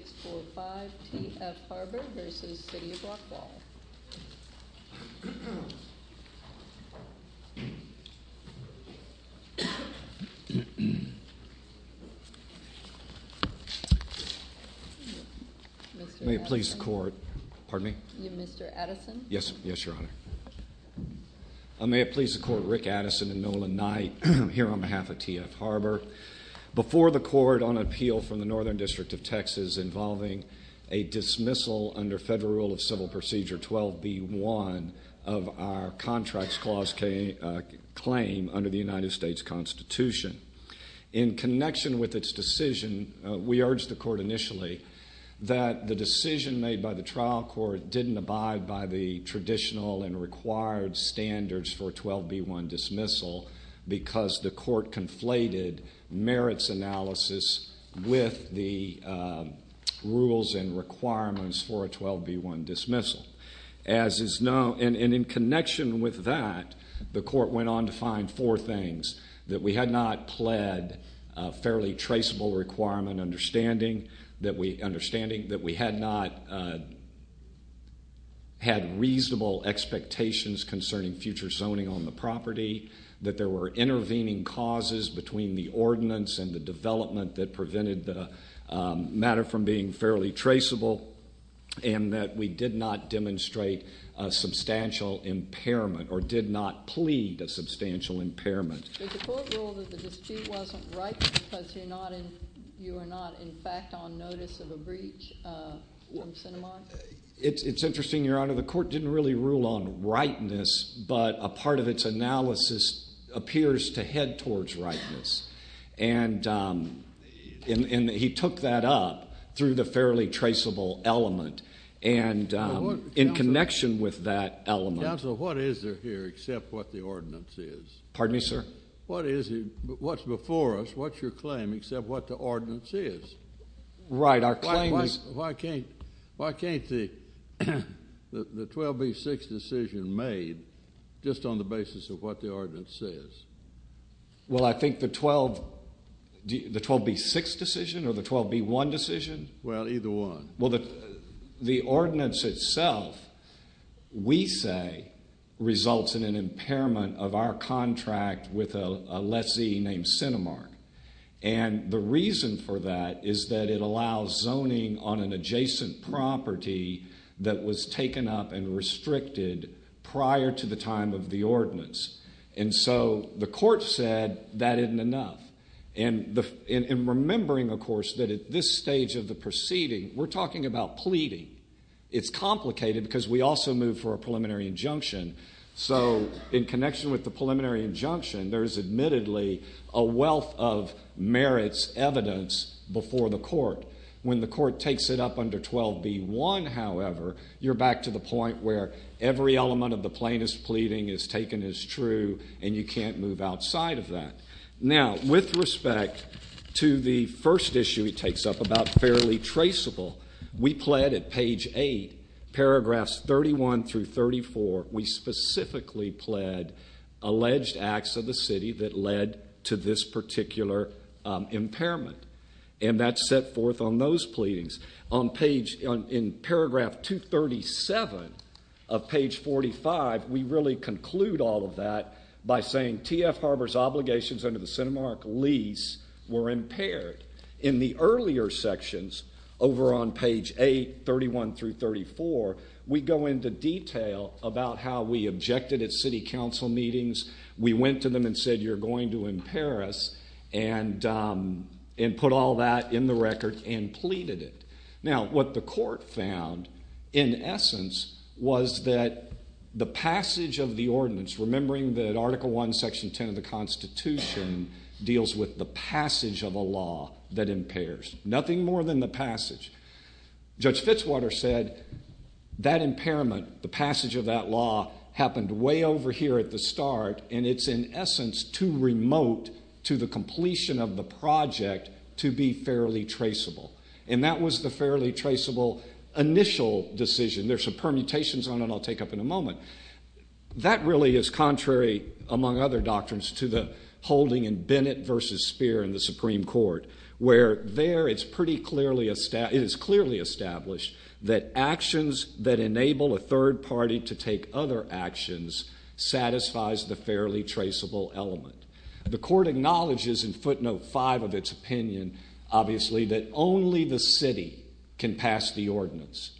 4-5, T.F. Harbor v. City of Rockwall Mr. Addison. May it please the court. Pardon me? Mr. Addison. Yes, yes your honor. May it please the court, Rick Addison and Nolan Knight here on behalf of T.F. Harbor. Before the court on the Northern District of Texas involving a dismissal under Federal Rule of Civil Procedure 12b-1 of our Contracts Clause claim under the United States Constitution. In connection with its decision, we urged the court initially that the decision made by the trial court didn't abide by the traditional and required standards for 12b-1 dismissal because the court conflated merits analysis with the rules and requirements for a 12b-1 dismissal. And in connection with that, the court went on to find four things. That we had not pled a fairly traceable requirement. Understanding that we had not had reasonable expectations concerning future zoning on the property. That there were issues with the ordinance and the development that prevented the matter from being fairly traceable. And that we did not demonstrate a substantial impairment or did not plead a substantial impairment. Did the court rule that the dispute wasn't right because you are not in fact on notice of a breach from Sinema? It's interesting, your honor. The court didn't really rule on rightness, but a part of its analysis appears to head towards rightness. And he took that up through the fairly traceable element and in connection with that element... Counsel, what is there here except what the ordinance is? Pardon me, sir? What's before us, what's your claim except what the ordinance is? Right, our claim is... Why can't the 12b-6 decision made just on the basis of what the ordinance says? Well, I think the 12... The 12b-6 decision or the 12b-1 decision? Well, either one. Well, the ordinance itself we say results in an impairment of our contract with a lessee named Sinemark. And the reason for that is that it allows zoning on an adjacent property that was taken up and restricted prior to the time of the ordinance. And so the court said that isn't enough. And remembering of course that at this stage of the proceeding, we're talking about pleading. It's complicated because we also move for a preliminary injunction. So in connection with the preliminary injunction, there's admittedly a wealth of merits evidence before the court. When the court takes it up under 12b-1, however, you're back to the point where every element of the plaintiff's pleading is taken as true and you can't move outside of that. Now, with respect to the first issue he takes up about fairly traceable, we pled at page 8, paragraphs 31 through 34, we specifically pled alleged acts of the city that led to this particular impairment. And that's set forth on those pleadings. On page, in paragraph 237 of page 45, we really conclude all of that by saying T.F. Harbor's obligations under the Cinemark lease were impaired. In the earlier sections, over on page 8, 31 through 34, we go into detail about how we objected at city council meetings. We went to them and said you're going to impair us. And put all that in the record and pleaded it. Now, what the court found in essence was that the passage of the ordinance remembering that Article I, Section 10 of the Constitution deals with the passage of a law that impairs. Nothing more than the passage. Judge Fitzwater said that impairment, the passage of that law happened way over here at the start and it's in essence too remote to the completion of the Fairly Traceable. And that was the Fairly Traceable initial decision. There's some permutations on it I'll take up in a moment. That really is contrary, among other doctrines, to the holding in Bennett v. Speer in the Supreme Court where there it's pretty clearly established that actions that enable a third party to take other actions satisfies the Fairly Traceable element. The court acknowledges in footnote 5 of its opinion, obviously, that only the city can pass the ordinance.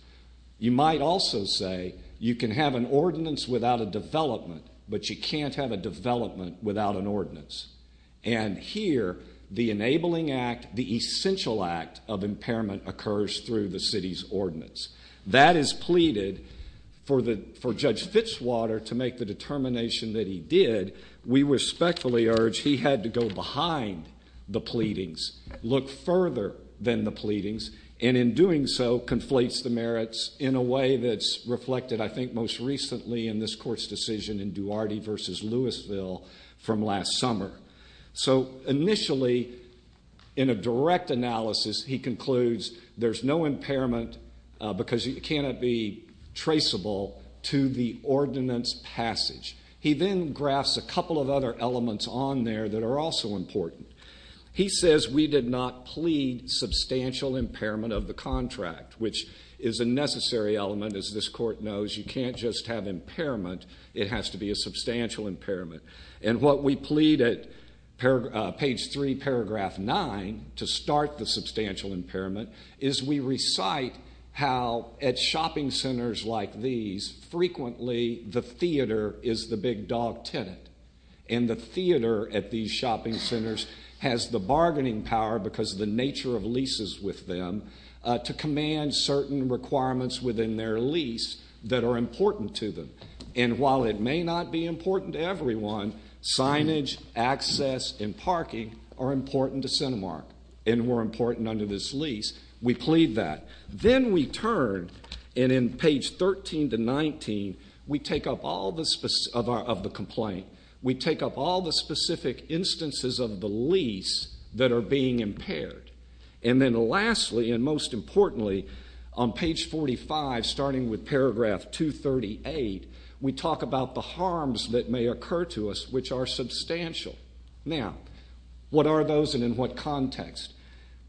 You might also say you can have an ordinance without a development, but you can't have a development without an ordinance. And here, the enabling act, the essential act of impairment occurs through the city's ordinance. That is pleaded for Judge Fitzwater to make the determination that he did. We respectfully urge he had to go behind the pleadings, look further than the pleadings, and in doing so, conflates the merits in a way that's reflected, I think, most recently in this court's decision in Duarte v. Louisville from last summer. So, initially, in a direct analysis, he concludes there's no impairment because it cannot be traceable to the ordinance passage. He then graphs a couple of other elements on there that are also important. He says we did not plead substantial impairment of the contract, which is a necessary element, as this court knows. You can't just have impairment. It has to be a substantial impairment. And what we plead at page 3, paragraph 9, to start the substantial impairment is we recite how at shopping centers like these, frequently, the theater is the big dog tenant. And the theater at these shopping centers has the bargaining power, because of the nature of leases with them, to command certain requirements within their lease that are important to them. And while it may not be important to everyone, signage, access, and parking are important to CentiMark, and were important under this lease. We plead that. Then we turn, and in page 13 to 19, we take up all of the complaint. We take up all the specific instances of the lease that are being impaired. And then lastly, and most importantly, on page 45, starting with paragraph 238, we talk about the harms that may occur to us, which are substantial. Now, what are those, and in what context?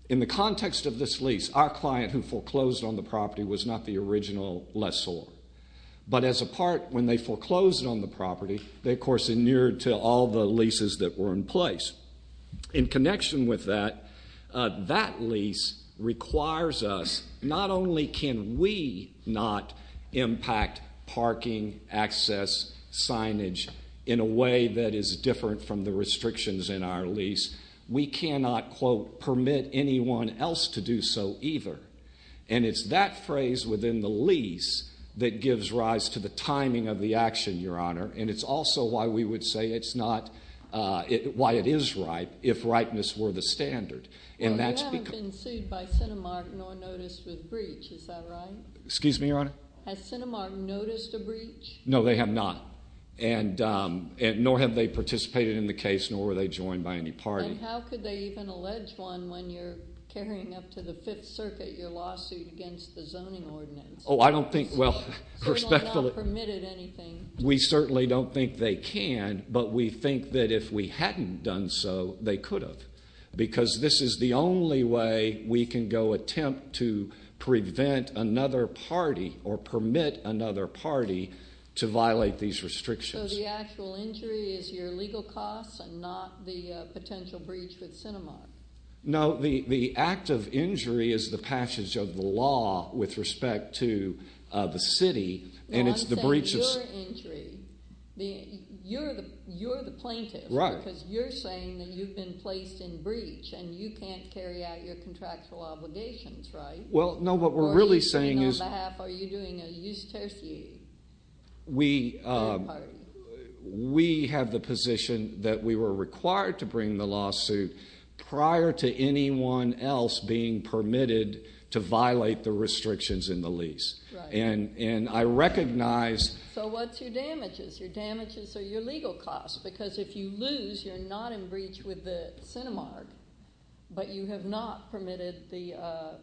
In the context of this lease, our client who foreclosed on the property was not the original lessor. But as a part, when they foreclosed on the property, they, of course, inured to all the leases that were in place. In connection with that, that lease requires us, not only can we not impact parking, access, signage, in a way that is different from the restrictions in our lease, we cannot quote, permit anyone else to do so either. And it's that phrase within the lease that gives rise to the timing of the action, Your Honor. And it's also why we would say it's not, why it is right, if rightness were the standard. And that's because... Well, they haven't been sued by CentiMark, nor noticed a breach. Is that right? Excuse me, Your Honor? Has CentiMark noticed a breach? No, they have not. And nor have they participated in the case, nor were they joined by any party. And how could they even allege one when you're carrying up to the Fifth Circuit your lawsuit against the zoning ordinance? Oh, I don't think, well... Certainly not permitted anything. We certainly don't think they can, but we think that if we hadn't done so, they could have. Because this is the only way we can go attempt to prevent another party, or permit another party to violate these restrictions. So the actual injury is your legal costs, and not the potential breach with CentiMark? No, the act of injury is the passage of the law with respect to the city, and it's the breach of... No, I'm saying your injury. You're the plaintiff. Right. Because you're saying that you've been placed in breach, and you can't carry out your contractual obligations, right? Well, no, what we're really saying is... Or are you saying on behalf, are you doing a use tertiary? We have the position that we were required to bring the lawsuit prior to anyone else being permitted to violate the restrictions in the lease. Right. And I recognize... So what's your damages? Your damages are your legal costs, because if you lose, you're not in breach with the CentiMark, but you have not permitted the...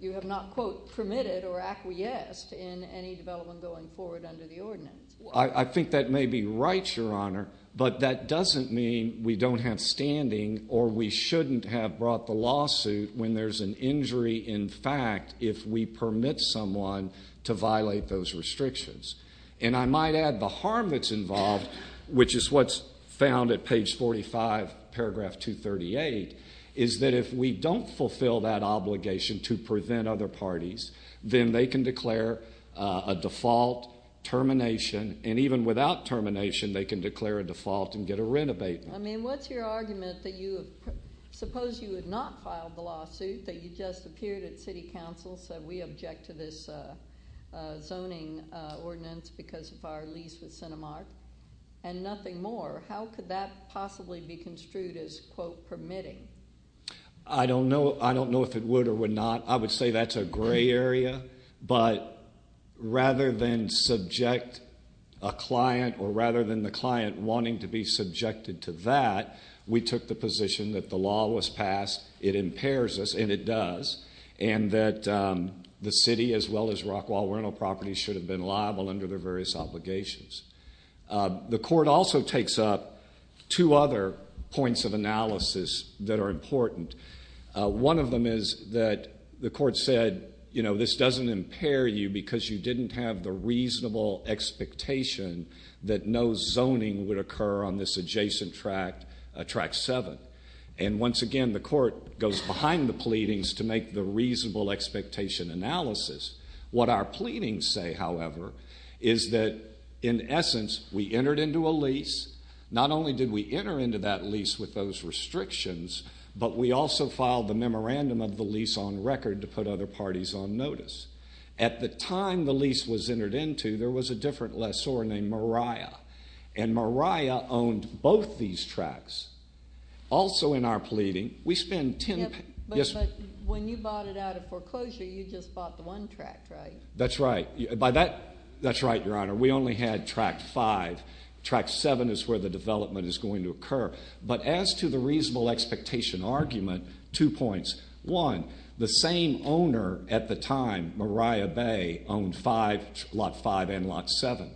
You have not, quote, permitted or acquiesced in any development going forward under the ordinance. I think that may be right, Your Honor, but that doesn't mean that we should be standing, or we shouldn't have brought the lawsuit when there's an injury, in fact, if we permit someone to violate those restrictions. And I might add the harm that's involved, which is what's found at page 45, paragraph 238, is that if we don't fulfill that obligation to prevent other parties, then they can declare a default termination, and even without termination, they can declare a default and get a renovation. I mean, what's your argument that you... Suppose you had not filed the lawsuit, that you just appeared at City Council, said we object to this zoning ordinance because of our lease with CentiMark, and nothing more. How could that possibly be construed as, quote, permitting? I don't know if it would or would not. I would say that's a gray area, but rather than subject a client, or rather than the client wanting to be subjected to that, we took the position that the law was passed, it impairs us, and it does, and that the City, as well as Rockwall Rental Properties, should have been liable under their various obligations. The court also takes up two other points of analysis that are important. One of them is that the court said, you know, this doesn't impair you because you didn't have the reasonable expectation that no zoning would occur on this adjacent tract, Tract 7. And once again, the court goes behind the pleadings to make the reasonable expectation analysis. What our pleadings say, however, is that in essence, we entered into a lease. Not only did we enter into that lease with those restrictions, but we also filed the memorandum of the lease on record to put other parties on notice. At the time the lease was entered into, there was a different lessor named Mariah. And Mariah owned both these tracts. Also in our pleading, we spent ten... But when you bought it out of foreclosure, you just bought the one tract, right? That's right. That's right, Your Honor. We only had Tract 5. Tract 7 is where the development is going to occur. But as to the reasonable expectation argument, two points. One, the same owner at the time, Mariah Bay, owned Lot 5 and Lot 7.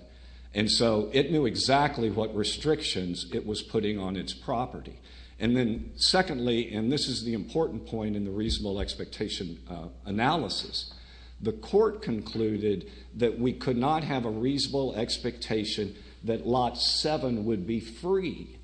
And so it knew exactly what restrictions it was putting on its property. And then secondly, and this is the important point in the reasonable expectation analysis, the court concluded that we could not have a reasonable expectation that Lot 7 would be free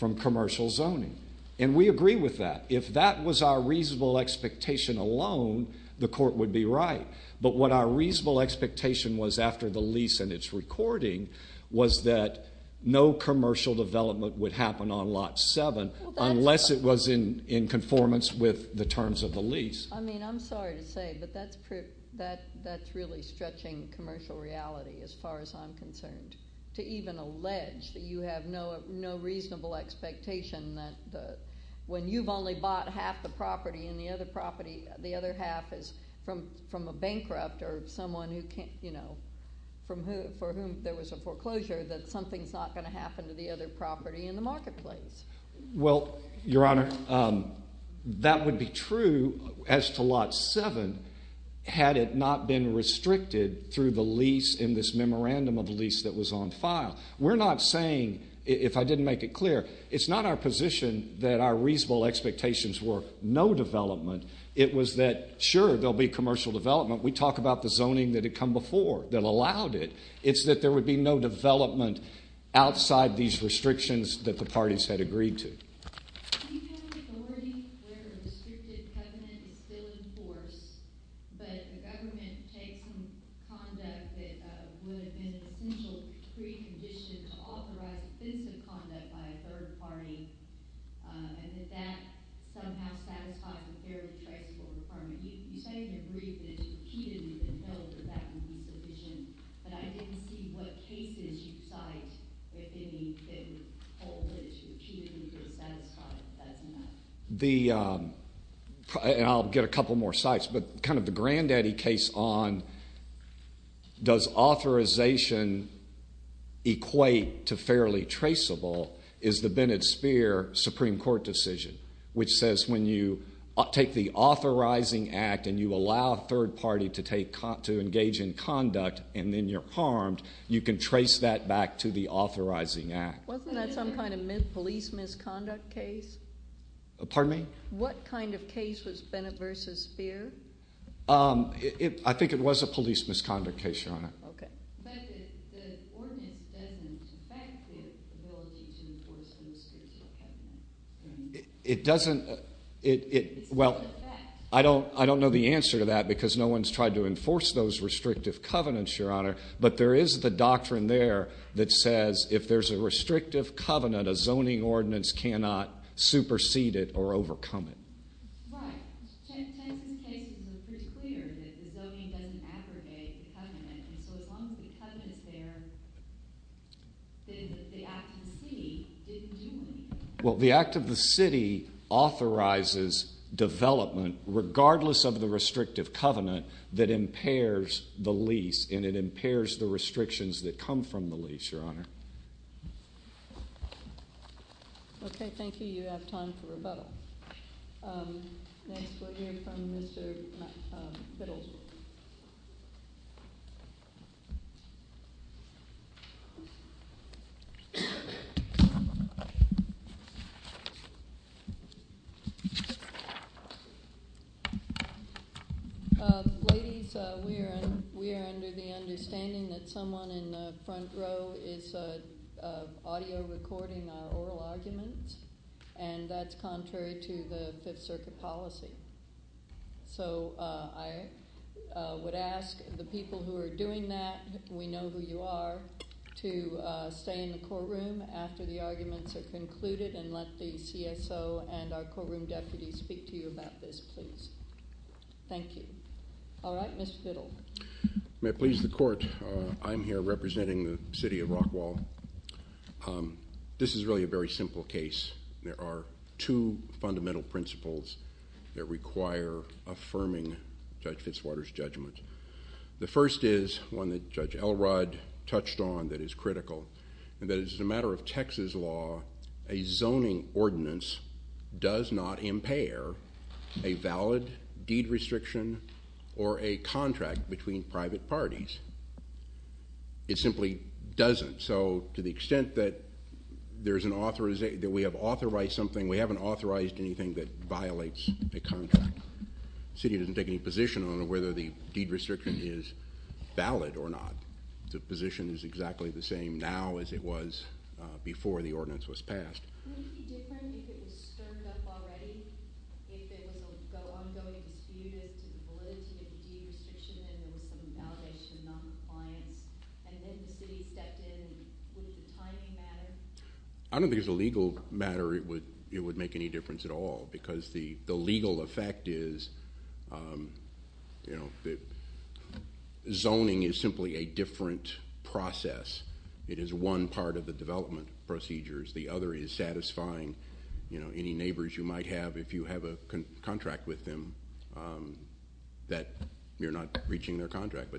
from commercial zoning. And we agree with that. If that was our reasonable expectation alone, the court would be right. But what our reasonable expectation was after the lease and its recording was that no commercial development would happen on Lot 7 unless it was in conformance with the terms of the lease. I mean, I'm sorry to say but that's really stretching commercial reality as far as I'm concerned. To even allege that you have no reasonable expectation that when you've only bought half the property and the other half is from a bankrupt or someone for whom there was a foreclosure that something's not going to happen to the other property in the marketplace. Well, Your Honor, that would be true as to Lot 7 had it not been restricted through the lease in this memorandum of the lease that was on file. We're not saying, if I didn't make it clear, it's not our position that our reasonable expectations were no development. It was that sure, there'll be commercial development. We talk about the zoning that had come before that allowed it. It's that there would be no development outside these restrictions that the parties had agreed to. Do you have any authority where a restricted covenant is still in force but the government takes some conduct that would have been an essential precondition to authorize offensive conduct by a third party and that that somehow satisfies the fairly traceable requirement? You say in your brief that it's repeatedly been held that that would be sufficient, but I didn't see what cases you cite if any that would hold that it's repeatedly been satisfied that that's enough. And I'll get a couple more sites, but kind of the granddaddy case on does authorization equate to fairly traceable is the Bennett-Spear Supreme Court decision, which says when you take the authorizing act and you allow a third party to engage in conduct and then you're harmed, you can trace that back to the authorizing act. Wasn't that some kind of police misconduct case? Pardon me? What kind of case was Bennett v. Spear? I think it was a police misconduct case, Your Honor. But the ordinance doesn't affect the ability to enforce those restrictive covenants. Well, I don't know the answer to that because no one's tried to enforce those restrictive covenants, Your Honor, but there is the doctrine there that says if there's a restrictive covenant a zoning ordinance cannot supersede it or overcome it. Right. Chances are pretty clear that the zoning doesn't aggregate the covenant, and so as long as the covenant is there the act of the city didn't do anything. Well, the act of the city authorizes development regardless of the restrictive covenant that impairs the lease, and it impairs the restrictions that come from the lease, Your Honor. Okay, thank you. You have time for rebuttal. Next we'll hear from Mr. Biddle. Ladies, we are under the understanding that someone in the front row is audio recording our oral arguments, and that's contrary to the Fifth Circuit policy. So I would ask the people who are doing that, we know who you are, to stay in the courtroom after the arguments are concluded and let the CSO and our courtroom deputies speak to you about this, please. Thank you. All right, Mr. Biddle. May it please the court, I'm here representing the city of Rockwall. This is really a very simple case. There are two things that require affirming Judge Fitzwater's judgment. The first is one that Judge Elrod touched on that is critical, and that is as a matter of Texas law, a zoning ordinance does not impair a valid deed restriction or a contract between private parties. It simply doesn't. So to the extent that we have authorized something, we haven't authorized anything that violates a contract. The city doesn't take any position on whether the deed restriction is valid or not. The position is exactly the same now as it was before the ordinance was passed. I don't think it's a legal matter. It would make any difference at all, because the legal effect is zoning is simply a different process. It is one part of the development procedures. The other is satisfying any neighbors you might have if you have a contract with them that you're not reaching their contract.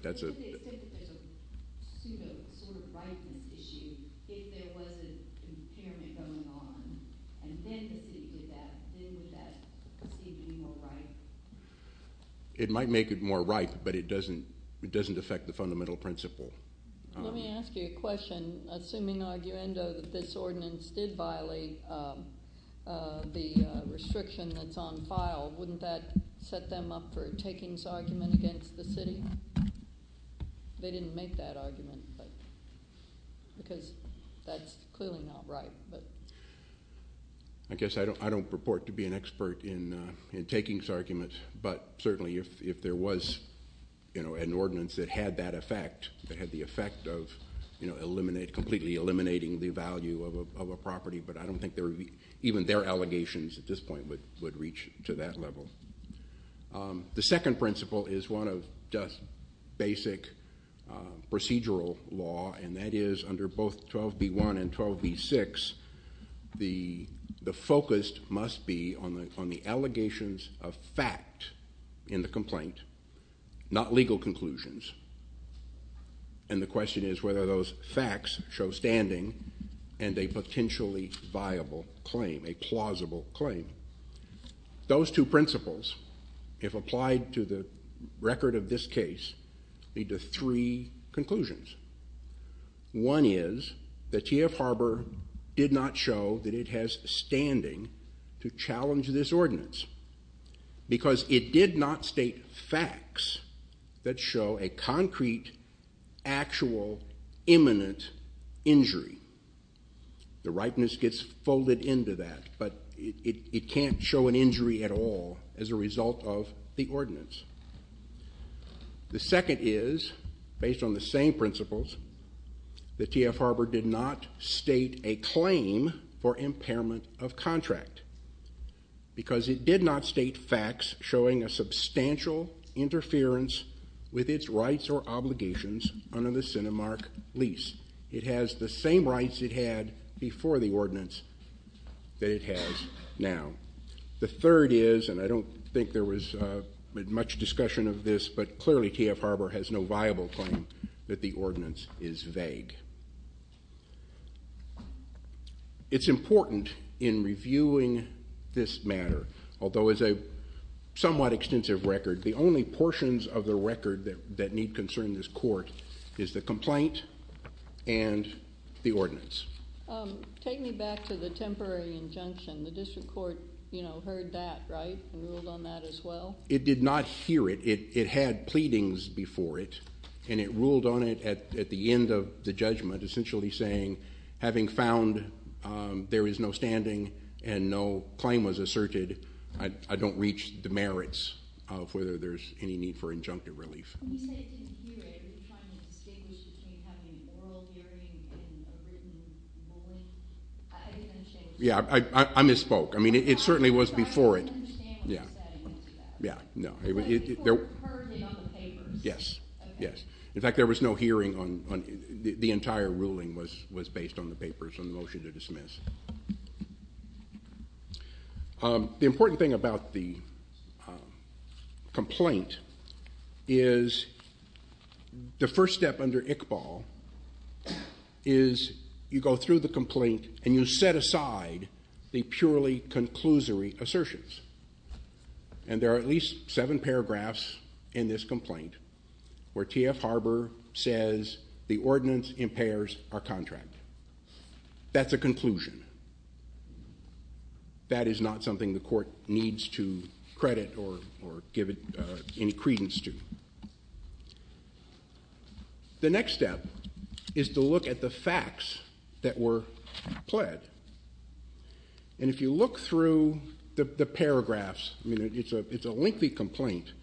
It might make it more ripe, but it doesn't affect the fundamental principle. Let me ask you a question. Assuming the argument of this is true and the restriction that's on file, wouldn't that set them up for a takings argument against the city? They didn't make that argument, but because that's clearly not right. I guess I don't purport to be an expert in takings arguments, but certainly if there was an ordinance that had that effect, that had the effect of completely eliminating the value of a property, but I don't think even their allegations at this point would reach to that level. The second principle is one of just basic procedural law, and that is under both 12b-1 and 12b-6, the focus must be on the allegations of fact in the complaint, not legal conclusions. And the question is whether those facts show standing and a potentially viable claim, a plausible claim. Those two principles if applied to the record of this case lead to three conclusions. One is that TF Harbor did not show that it has standing to challenge this ordinance because it did not state facts that show a concrete, actual, imminent injury. The rightness gets folded into that, but it can't show an injury at all as a result of the ordinance. The second is, based on the same principles, that TF Harbor did not state a claim for impairment of contract because it did not state facts showing a substantial interference with its rights or obligations under the CentiMark lease. It has the same rights it had before the ordinance that it has now. The third is, and I don't think there was much discussion of this, but clearly TF Harbor has no viable claim that the ordinance is vague. It's important in reviewing this matter, although as a somewhat extensive record, the only portions of the record that need concern in this court is the complaint and the ordinance. Take me back to the temporary injunction. The district court heard that, right, and ruled on that as well? It did not hear it. It had pleadings before it, and it ruled on it at the end of the judgment, essentially saying, having found there is no standing and no claim was asserted, I don't reach the merits of whether there's any need for injunctive relief. When you say it didn't hear it, are you trying to distinguish between having oral hearing and a written ruling? Yeah, I misspoke. I mean, it certainly was before it. I didn't understand what you said in response to that. In fact, there was no hearing. The entire ruling was based on the papers and the motion to dismiss. The important thing about the complaint is the first step under Iqbal is you go through the complaint and you set aside the purely conclusory assertions. There are at least seven paragraphs in this complaint where T.F. Harbour says the ordinance impairs our contract. That's a conclusion. That is not something the court needs to credit or give any credence to. The next step is to look at the facts that were pled. And if you look through the paragraphs, it's a lengthy complaint,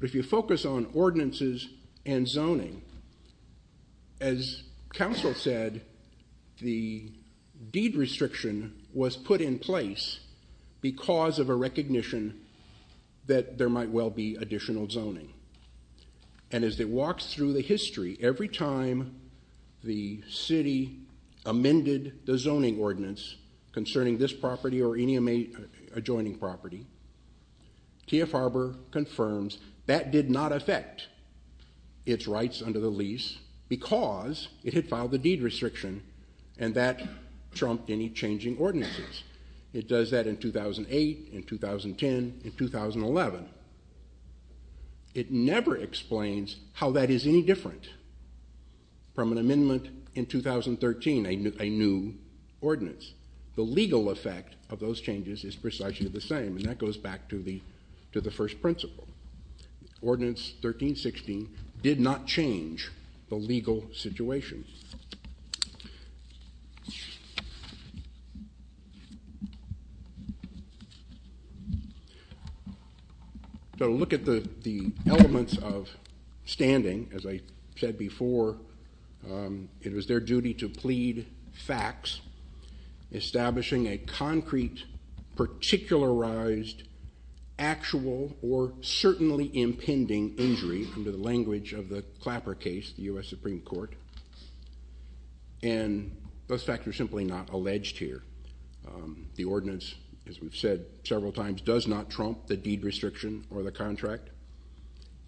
but if you focus on ordinances and zoning, as counsel said, the deed restriction was put in place because of a recognition that there might well be additional zoning. And as it walks through the history, every time the city amended the zoning ordinance concerning this property or any adjoining property, T.F. Harbour confirms that did not affect its rights under the lease because it had filed the deed restriction, and that trumped any changing ordinances. It does that in 2008, in 2010, in 2011. It never explains how that is any different from an amendment in 2013, a new ordinance. The legal effect of those changes is precisely the same, and that goes back to the first principle. Ordinance 1316 did not change the legal situation. So look at the elements of standing. As I said before, it was their duty to plead facts, establishing a concrete, particularized, actual or certainly impending injury under the language of the Clapper case, the U.S. Supreme Court. And those facts are simply not alleged here. The ordinance, as we've said several times, does not trump the deed restriction or the contract.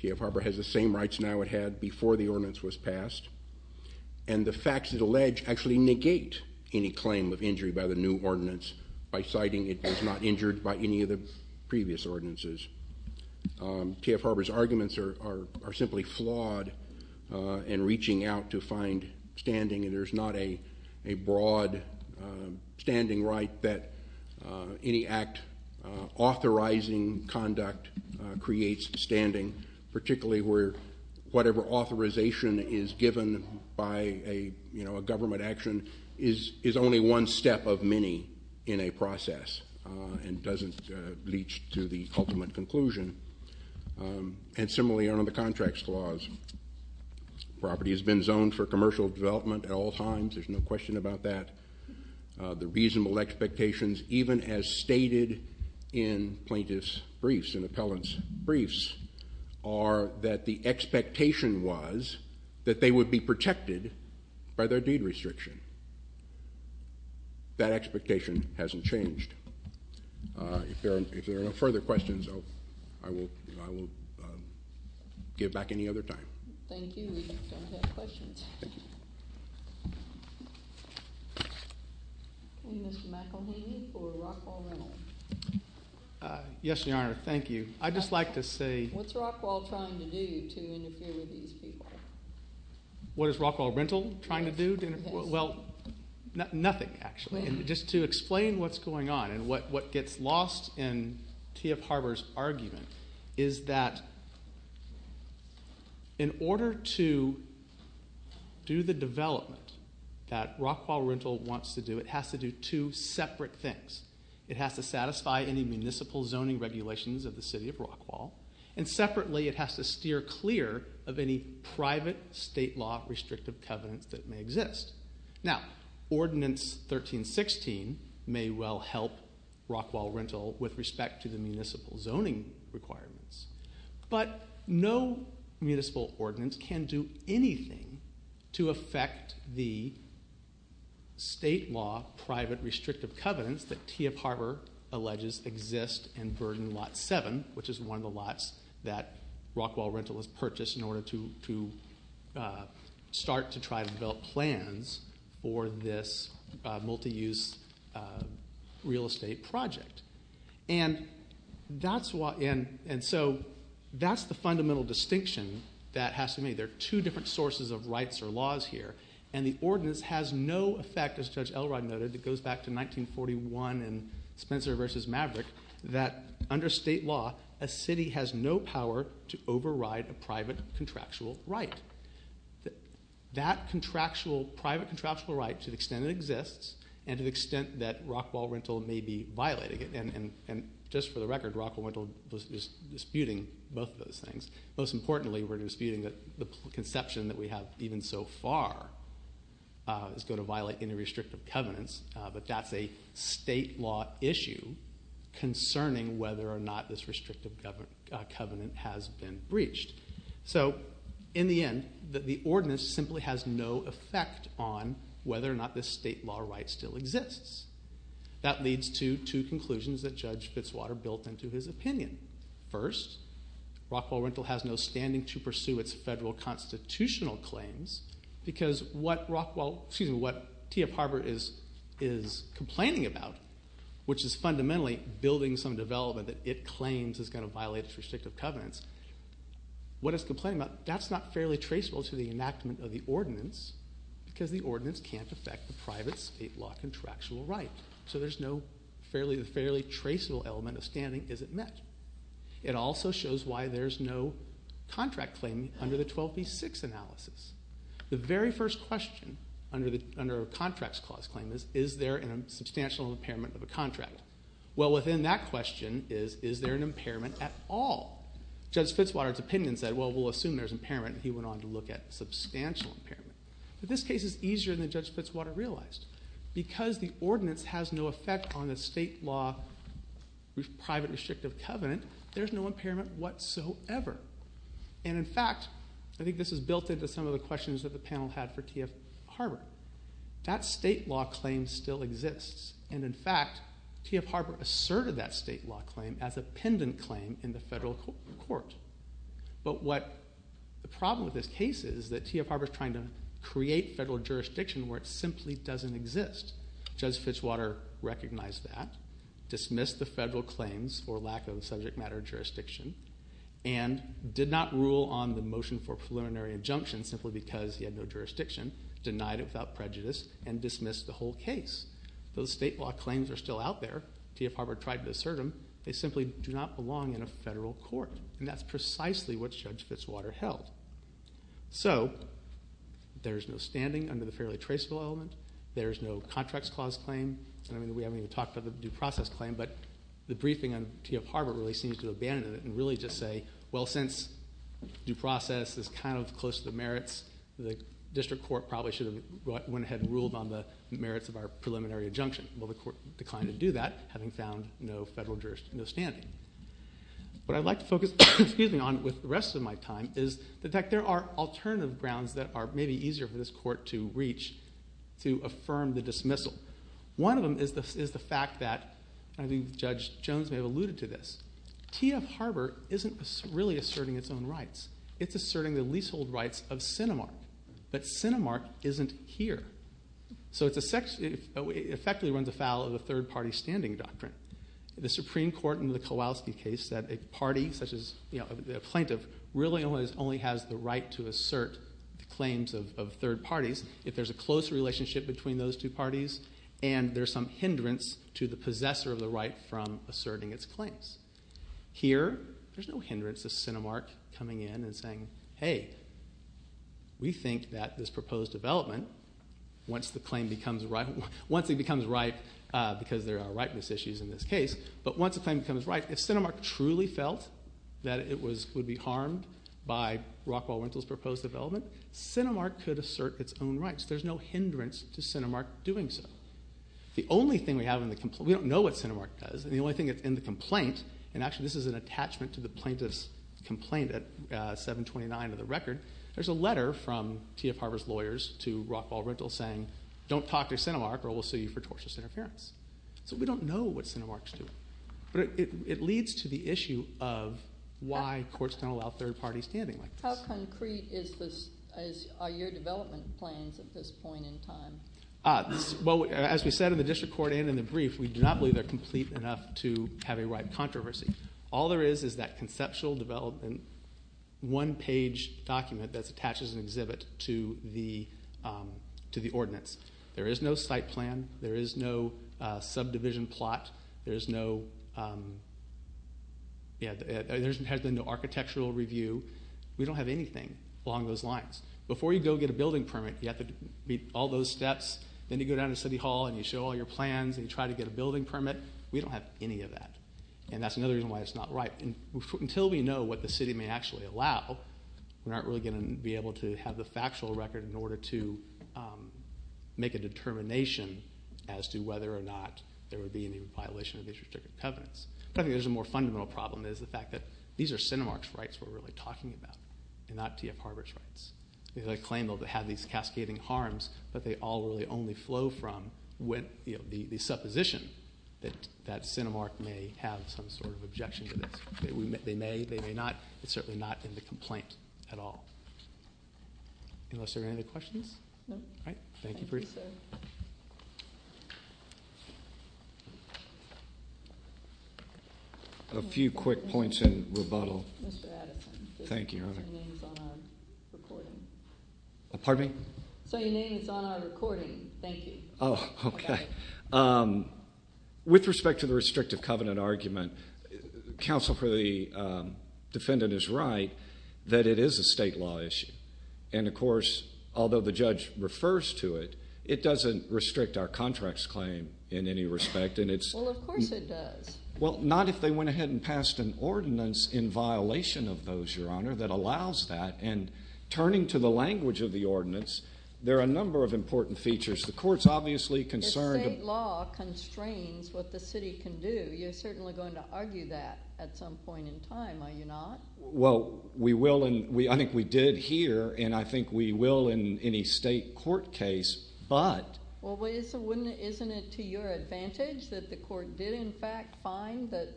T.F. Harbour has the same rights now it had before the ordinance was passed. And the facts it alleged actually negate any claim of injury by the new ordinance by citing it was not injured by any of the previous ordinances. T.F. Harbour's arguments are simply flawed in reaching out to find standing, and there's not a broad standing right that any act authorizing conduct creates standing, particularly where whatever authorization is given by a government action is only one step of many in a process and doesn't reach to the ultimate conclusion. And similarly under the Contracts Clause, property has been zoned for commercial development at all times. There's no question about that. The reasonable expectations, even as stated in plaintiff's briefs and appellant's briefs, are that the expectation was that they would be protected by their deed restriction. That expectation hasn't changed. If there are no further questions, I will give back any other time. Thank you. We don't have questions. Mr. McElhaney for Rockwall Rental. Yes, Your Honor. Thank you. I'd just like to say What's Rockwall trying to do to interfere with these people? What is Rockwall Rental trying to do? Nothing, actually. Just to explain what's going on and what gets lost in T.F. Harbor's argument is that in order to do the development that Rockwall Rental wants to do, it has to do two separate things. It has to satisfy any municipal zoning regulations of the City of Rockwall, and separately it has to steer clear of any private state law restrictive covenants that may exist. Now, Ordinance 1316 may well help Rockwall Rental with respect to the municipal zoning requirements, but no municipal ordinance can do anything to affect the state law private restrictive covenants that T.F. Harbor alleges exist and burden Lot 7, which is one of the lots that Rockwall Rental has purchased in order to start to try to develop plans for this multi-use real estate project. And so that's the fundamental distinction that has to be made. There are two different sources of rights or laws here, and the ordinance has no effect, as Judge Elrod noted. It goes back to 1941 and Spencer v. Maverick, that under state law, a city has no power to override a private contractual right. That contractual private contractual right, to the extent it exists, and to the extent that Rockwall Rental may be violating it, and just for the record, Rockwall Rental is disputing both of those things. Most importantly, we're disputing the conception that we have even so far is going to violate any restrictive covenants, but that's a state law issue concerning whether or not this restrictive covenant has been breached. So in the end, the ordinance simply has no effect on whether or not this state law right still exists. That leads to two conclusions that Judge Fitzwater built into his opinion. First, Rockwall Rental has no standing to pursue its federal constitutional claims because what T.F. Harbor is complaining about, which is fundamentally building some development that it claims is going to violate its restrictive covenants, that's not fairly traceable to the enactment of the ordinance because the ordinance can't affect the private state law contractual right. So the fairly traceable element of standing isn't met. It also shows why there's no contract claim under the 12b-6 analysis. The very first question under contracts clause claim is, is there a substantial impairment of a contract? Well, within that question is, is there an impairment at all? Judge Fitzwater's opinion said, well, we'll assume there's impairment, and he went on to look at substantial impairment. But this case is easier than Judge Fitzwater realized because the ordinance has no effect on the state law private restrictive covenant, there's no impairment whatsoever. And in fact, I think this is built into some of the questions that the panel had for T.F. Harbor. That state law claim still exists. And in fact, T.F. Harbor asserted that state law claim as a pendant claim in the federal court. But what the problem with this case is that T.F. Harbor is trying to create federal jurisdiction where it simply doesn't exist. Judge Fitzwater recognized that, dismissed the federal claims for lack of subject matter jurisdiction, and did not rule on the motion for preliminary injunction simply because he had no jurisdiction, denied it without prejudice, and dismissed the whole case. Those state law claims are still out there. T.F. Harbor tried to assert them. They simply do not belong in a federal court. And that's precisely what Judge Fitzwater held. So, there's no standing under the fairly traceable element. There's no contracts clause claim. I mean, we haven't even talked about the due process claim, but the briefing on T.F. Harbor really seems to abandon it and really just say, well, since due process is kind of close to the merits, the district court probably should have went ahead and ruled on the merits of our preliminary injunction. Well, the court declined to do that, having found no federal jurisdiction, no standing. What I'd like to focus on with the rest of my time is that there are alternative grounds that are maybe easier for this court to reach to affirm the dismissal. One of them is the fact that, and I think Judge Jones may have alluded to this, T.F. Harbor isn't really asserting its own rights. It's asserting the leasehold rights of Cinemark. But Cinemark isn't here. So, it effectively runs afoul of the third party standing doctrine. The Supreme Court in the Kowalski case said a party, such as a plaintiff, really only has the right to assert the claims of third parties if there's a close relationship between those two parties and there's some hindrance to the possessor of the right from asserting its claims. Here, there's no hindrance to Cinemark coming in and saying, hey, we think that this proposed development once the claim becomes ripe because there are ripeness issues in this case, but once the claim becomes ripe, if Cinemark truly felt that it would be harmed by Rockwall Rentals' proposed development, Cinemark could assert its own rights. There's no hindrance to Cinemark doing so. The only thing we have in the complaint, we don't know what Cinemark does, and the only thing that's in the complaint, and actually this is an attachment to the plaintiff's complaint at 729 of the record, there's a letter from T.F. Harvard's lawyers to Rockwall Rentals saying, don't talk to Cinemark or we'll sue you for tortious interference. So, we don't know what Cinemark's doing. But it leads to the issue of why courts don't allow third parties standing like this. How concrete are your development plans at this point in time? Well, as we said in the district court and in the brief, we do not believe they're complete enough to have a ripe controversy. All there is, is that conceptual development one-page document that's attached as an exhibit to the ordinance. There is no site plan. There is no subdivision plot. There's no architectural review. We don't have anything along those lines. Before you go get a building permit, you have to meet all those steps. Then you go down to City Hall and you show all your plans and you try to get a building permit. We don't have any of that. And that's another reason why it's not ripe. Until we know what the city may actually allow, we're not really going to be able to have the factual record in order to make a determination as to whether or not there would be any violation of these restricted covenants. But I think there's a more fundamental problem is the fact that these are Cinemark's rights we're really talking about and not T.F. Harvard's rights. They claim they'll have these rights, but they only flow from the supposition that Cinemark may have some sort of objection to this. They may. They may not. It's certainly not in the complaint at all. Unless there are any other questions? A few quick points in rebuttal. Thank you. Your name is on our recording. Thank you. With respect to the restrictive covenant argument, counsel for the defendant is right that it is a state law issue. And of course, although the judge refers to it, it doesn't restrict our contracts claim in any respect. Well, of course it does. Well, not if they went ahead and passed an ordinance in violation of those, Your Honor, that allows that. And turning to the language of the ordinance, there are a number of important features. The court is obviously concerned... If state law constrains what the city can do, you're certainly going to argue that at some point in time, are you not? Well, we will. I think we did here. And I think we will in any state court case. But... Isn't it to your advantage that the court did in fact find that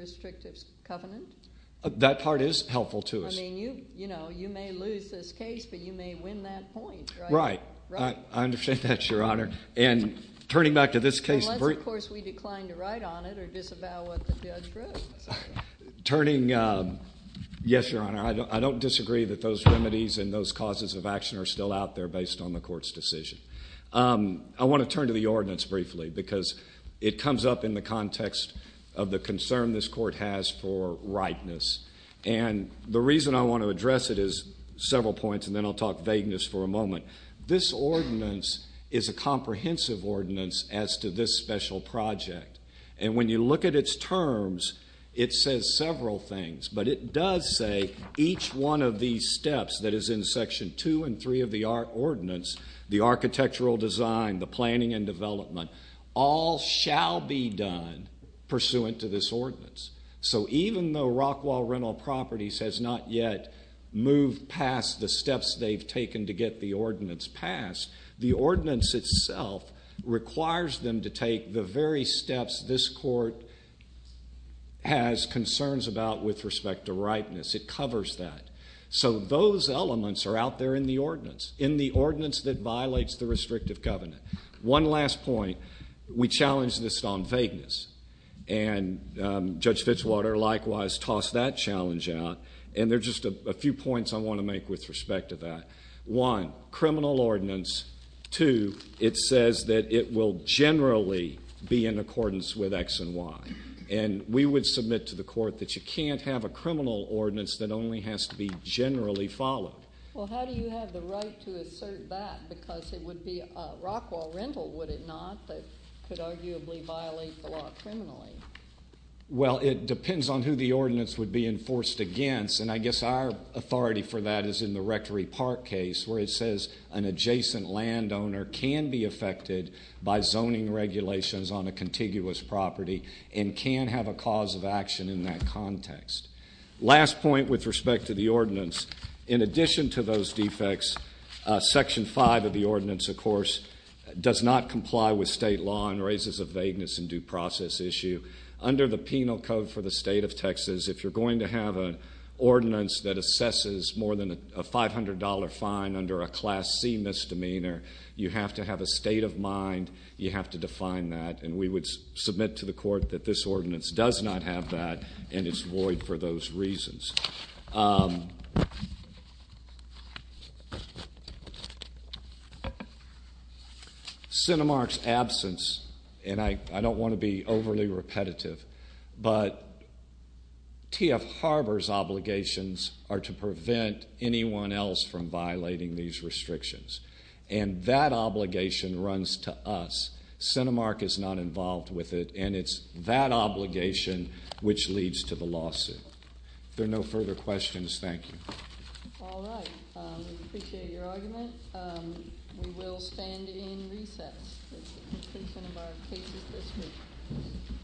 restrictive covenant? That part is helpful to us. You may lose this case, but you may win that point. Right. I understand that, Your Honor. And turning back to this case... Unless, of course, we decline to write on it or disavow what the judge wrote. Turning... Yes, Your Honor. I don't disagree that those remedies and those causes of action are still out there based on the court's decision. I want to turn to the ordinance briefly because it comes up in the context of the concern this court has for rightness. And the reason I want to address it is several points, and then I'll talk vagueness for a moment. This ordinance is a comprehensive ordinance as to this special project. And when you look at its terms, it says several things. But it does say each one of these steps that is in Section 2 and 3 of the ordinance, the architectural design, the planning and development, all shall be done pursuant to this ordinance. So even though Rockwall Rental Properties has not yet moved past the steps they've taken to get the ordinance passed, the ordinance itself requires them to take the very steps this court has concerns about with respect to rightness. It covers that. So those elements are out there in the ordinance, in the ordinance that violates the restrictive covenant. One last point. We challenge this on vagueness. And Judge Fitzwater, likewise, tossed that challenge out. And there's just a few points I want to make with respect to that. One, criminal ordinance. Two, it says that it will generally be in accordance with X and Y. And we would submit to the court that you can't have a criminal ordinance that only has to be generally followed. Well, how do you have the right to assert that because it would be Rockwall Rental, would it not? That could arguably violate the law criminally. Well, it depends on who the ordinance would be enforced against. And I guess our authority for that is in the Rectory Park case where it says an adjacent landowner can be affected by zoning regulations on a contiguous property and can have a cause of action in that context. Last point with respect to the ordinance. In addition to those the other side of the ordinance, of course, does not comply with state law and raises a vagueness in due process issue. Under the Penal Code for the State of Texas if you're going to have an ordinance that assesses more than a $500 fine under a Class C misdemeanor, you have to have a state of mind. You have to define that. And we would submit to the court that this ordinance does not have that and it's void for those reasons. Um Cinemark's absence, and I don't want to be overly repetitive, but T.F. Harbor's obligations are to prevent anyone else from violating these restrictions. And that obligation runs to us. Cinemark is not involved with it and it's that obligation which leads to the lawsuit. If there are no further questions, thank you. Alright, we appreciate your argument. We will stand in recess. That's the conclusion of our cases this week.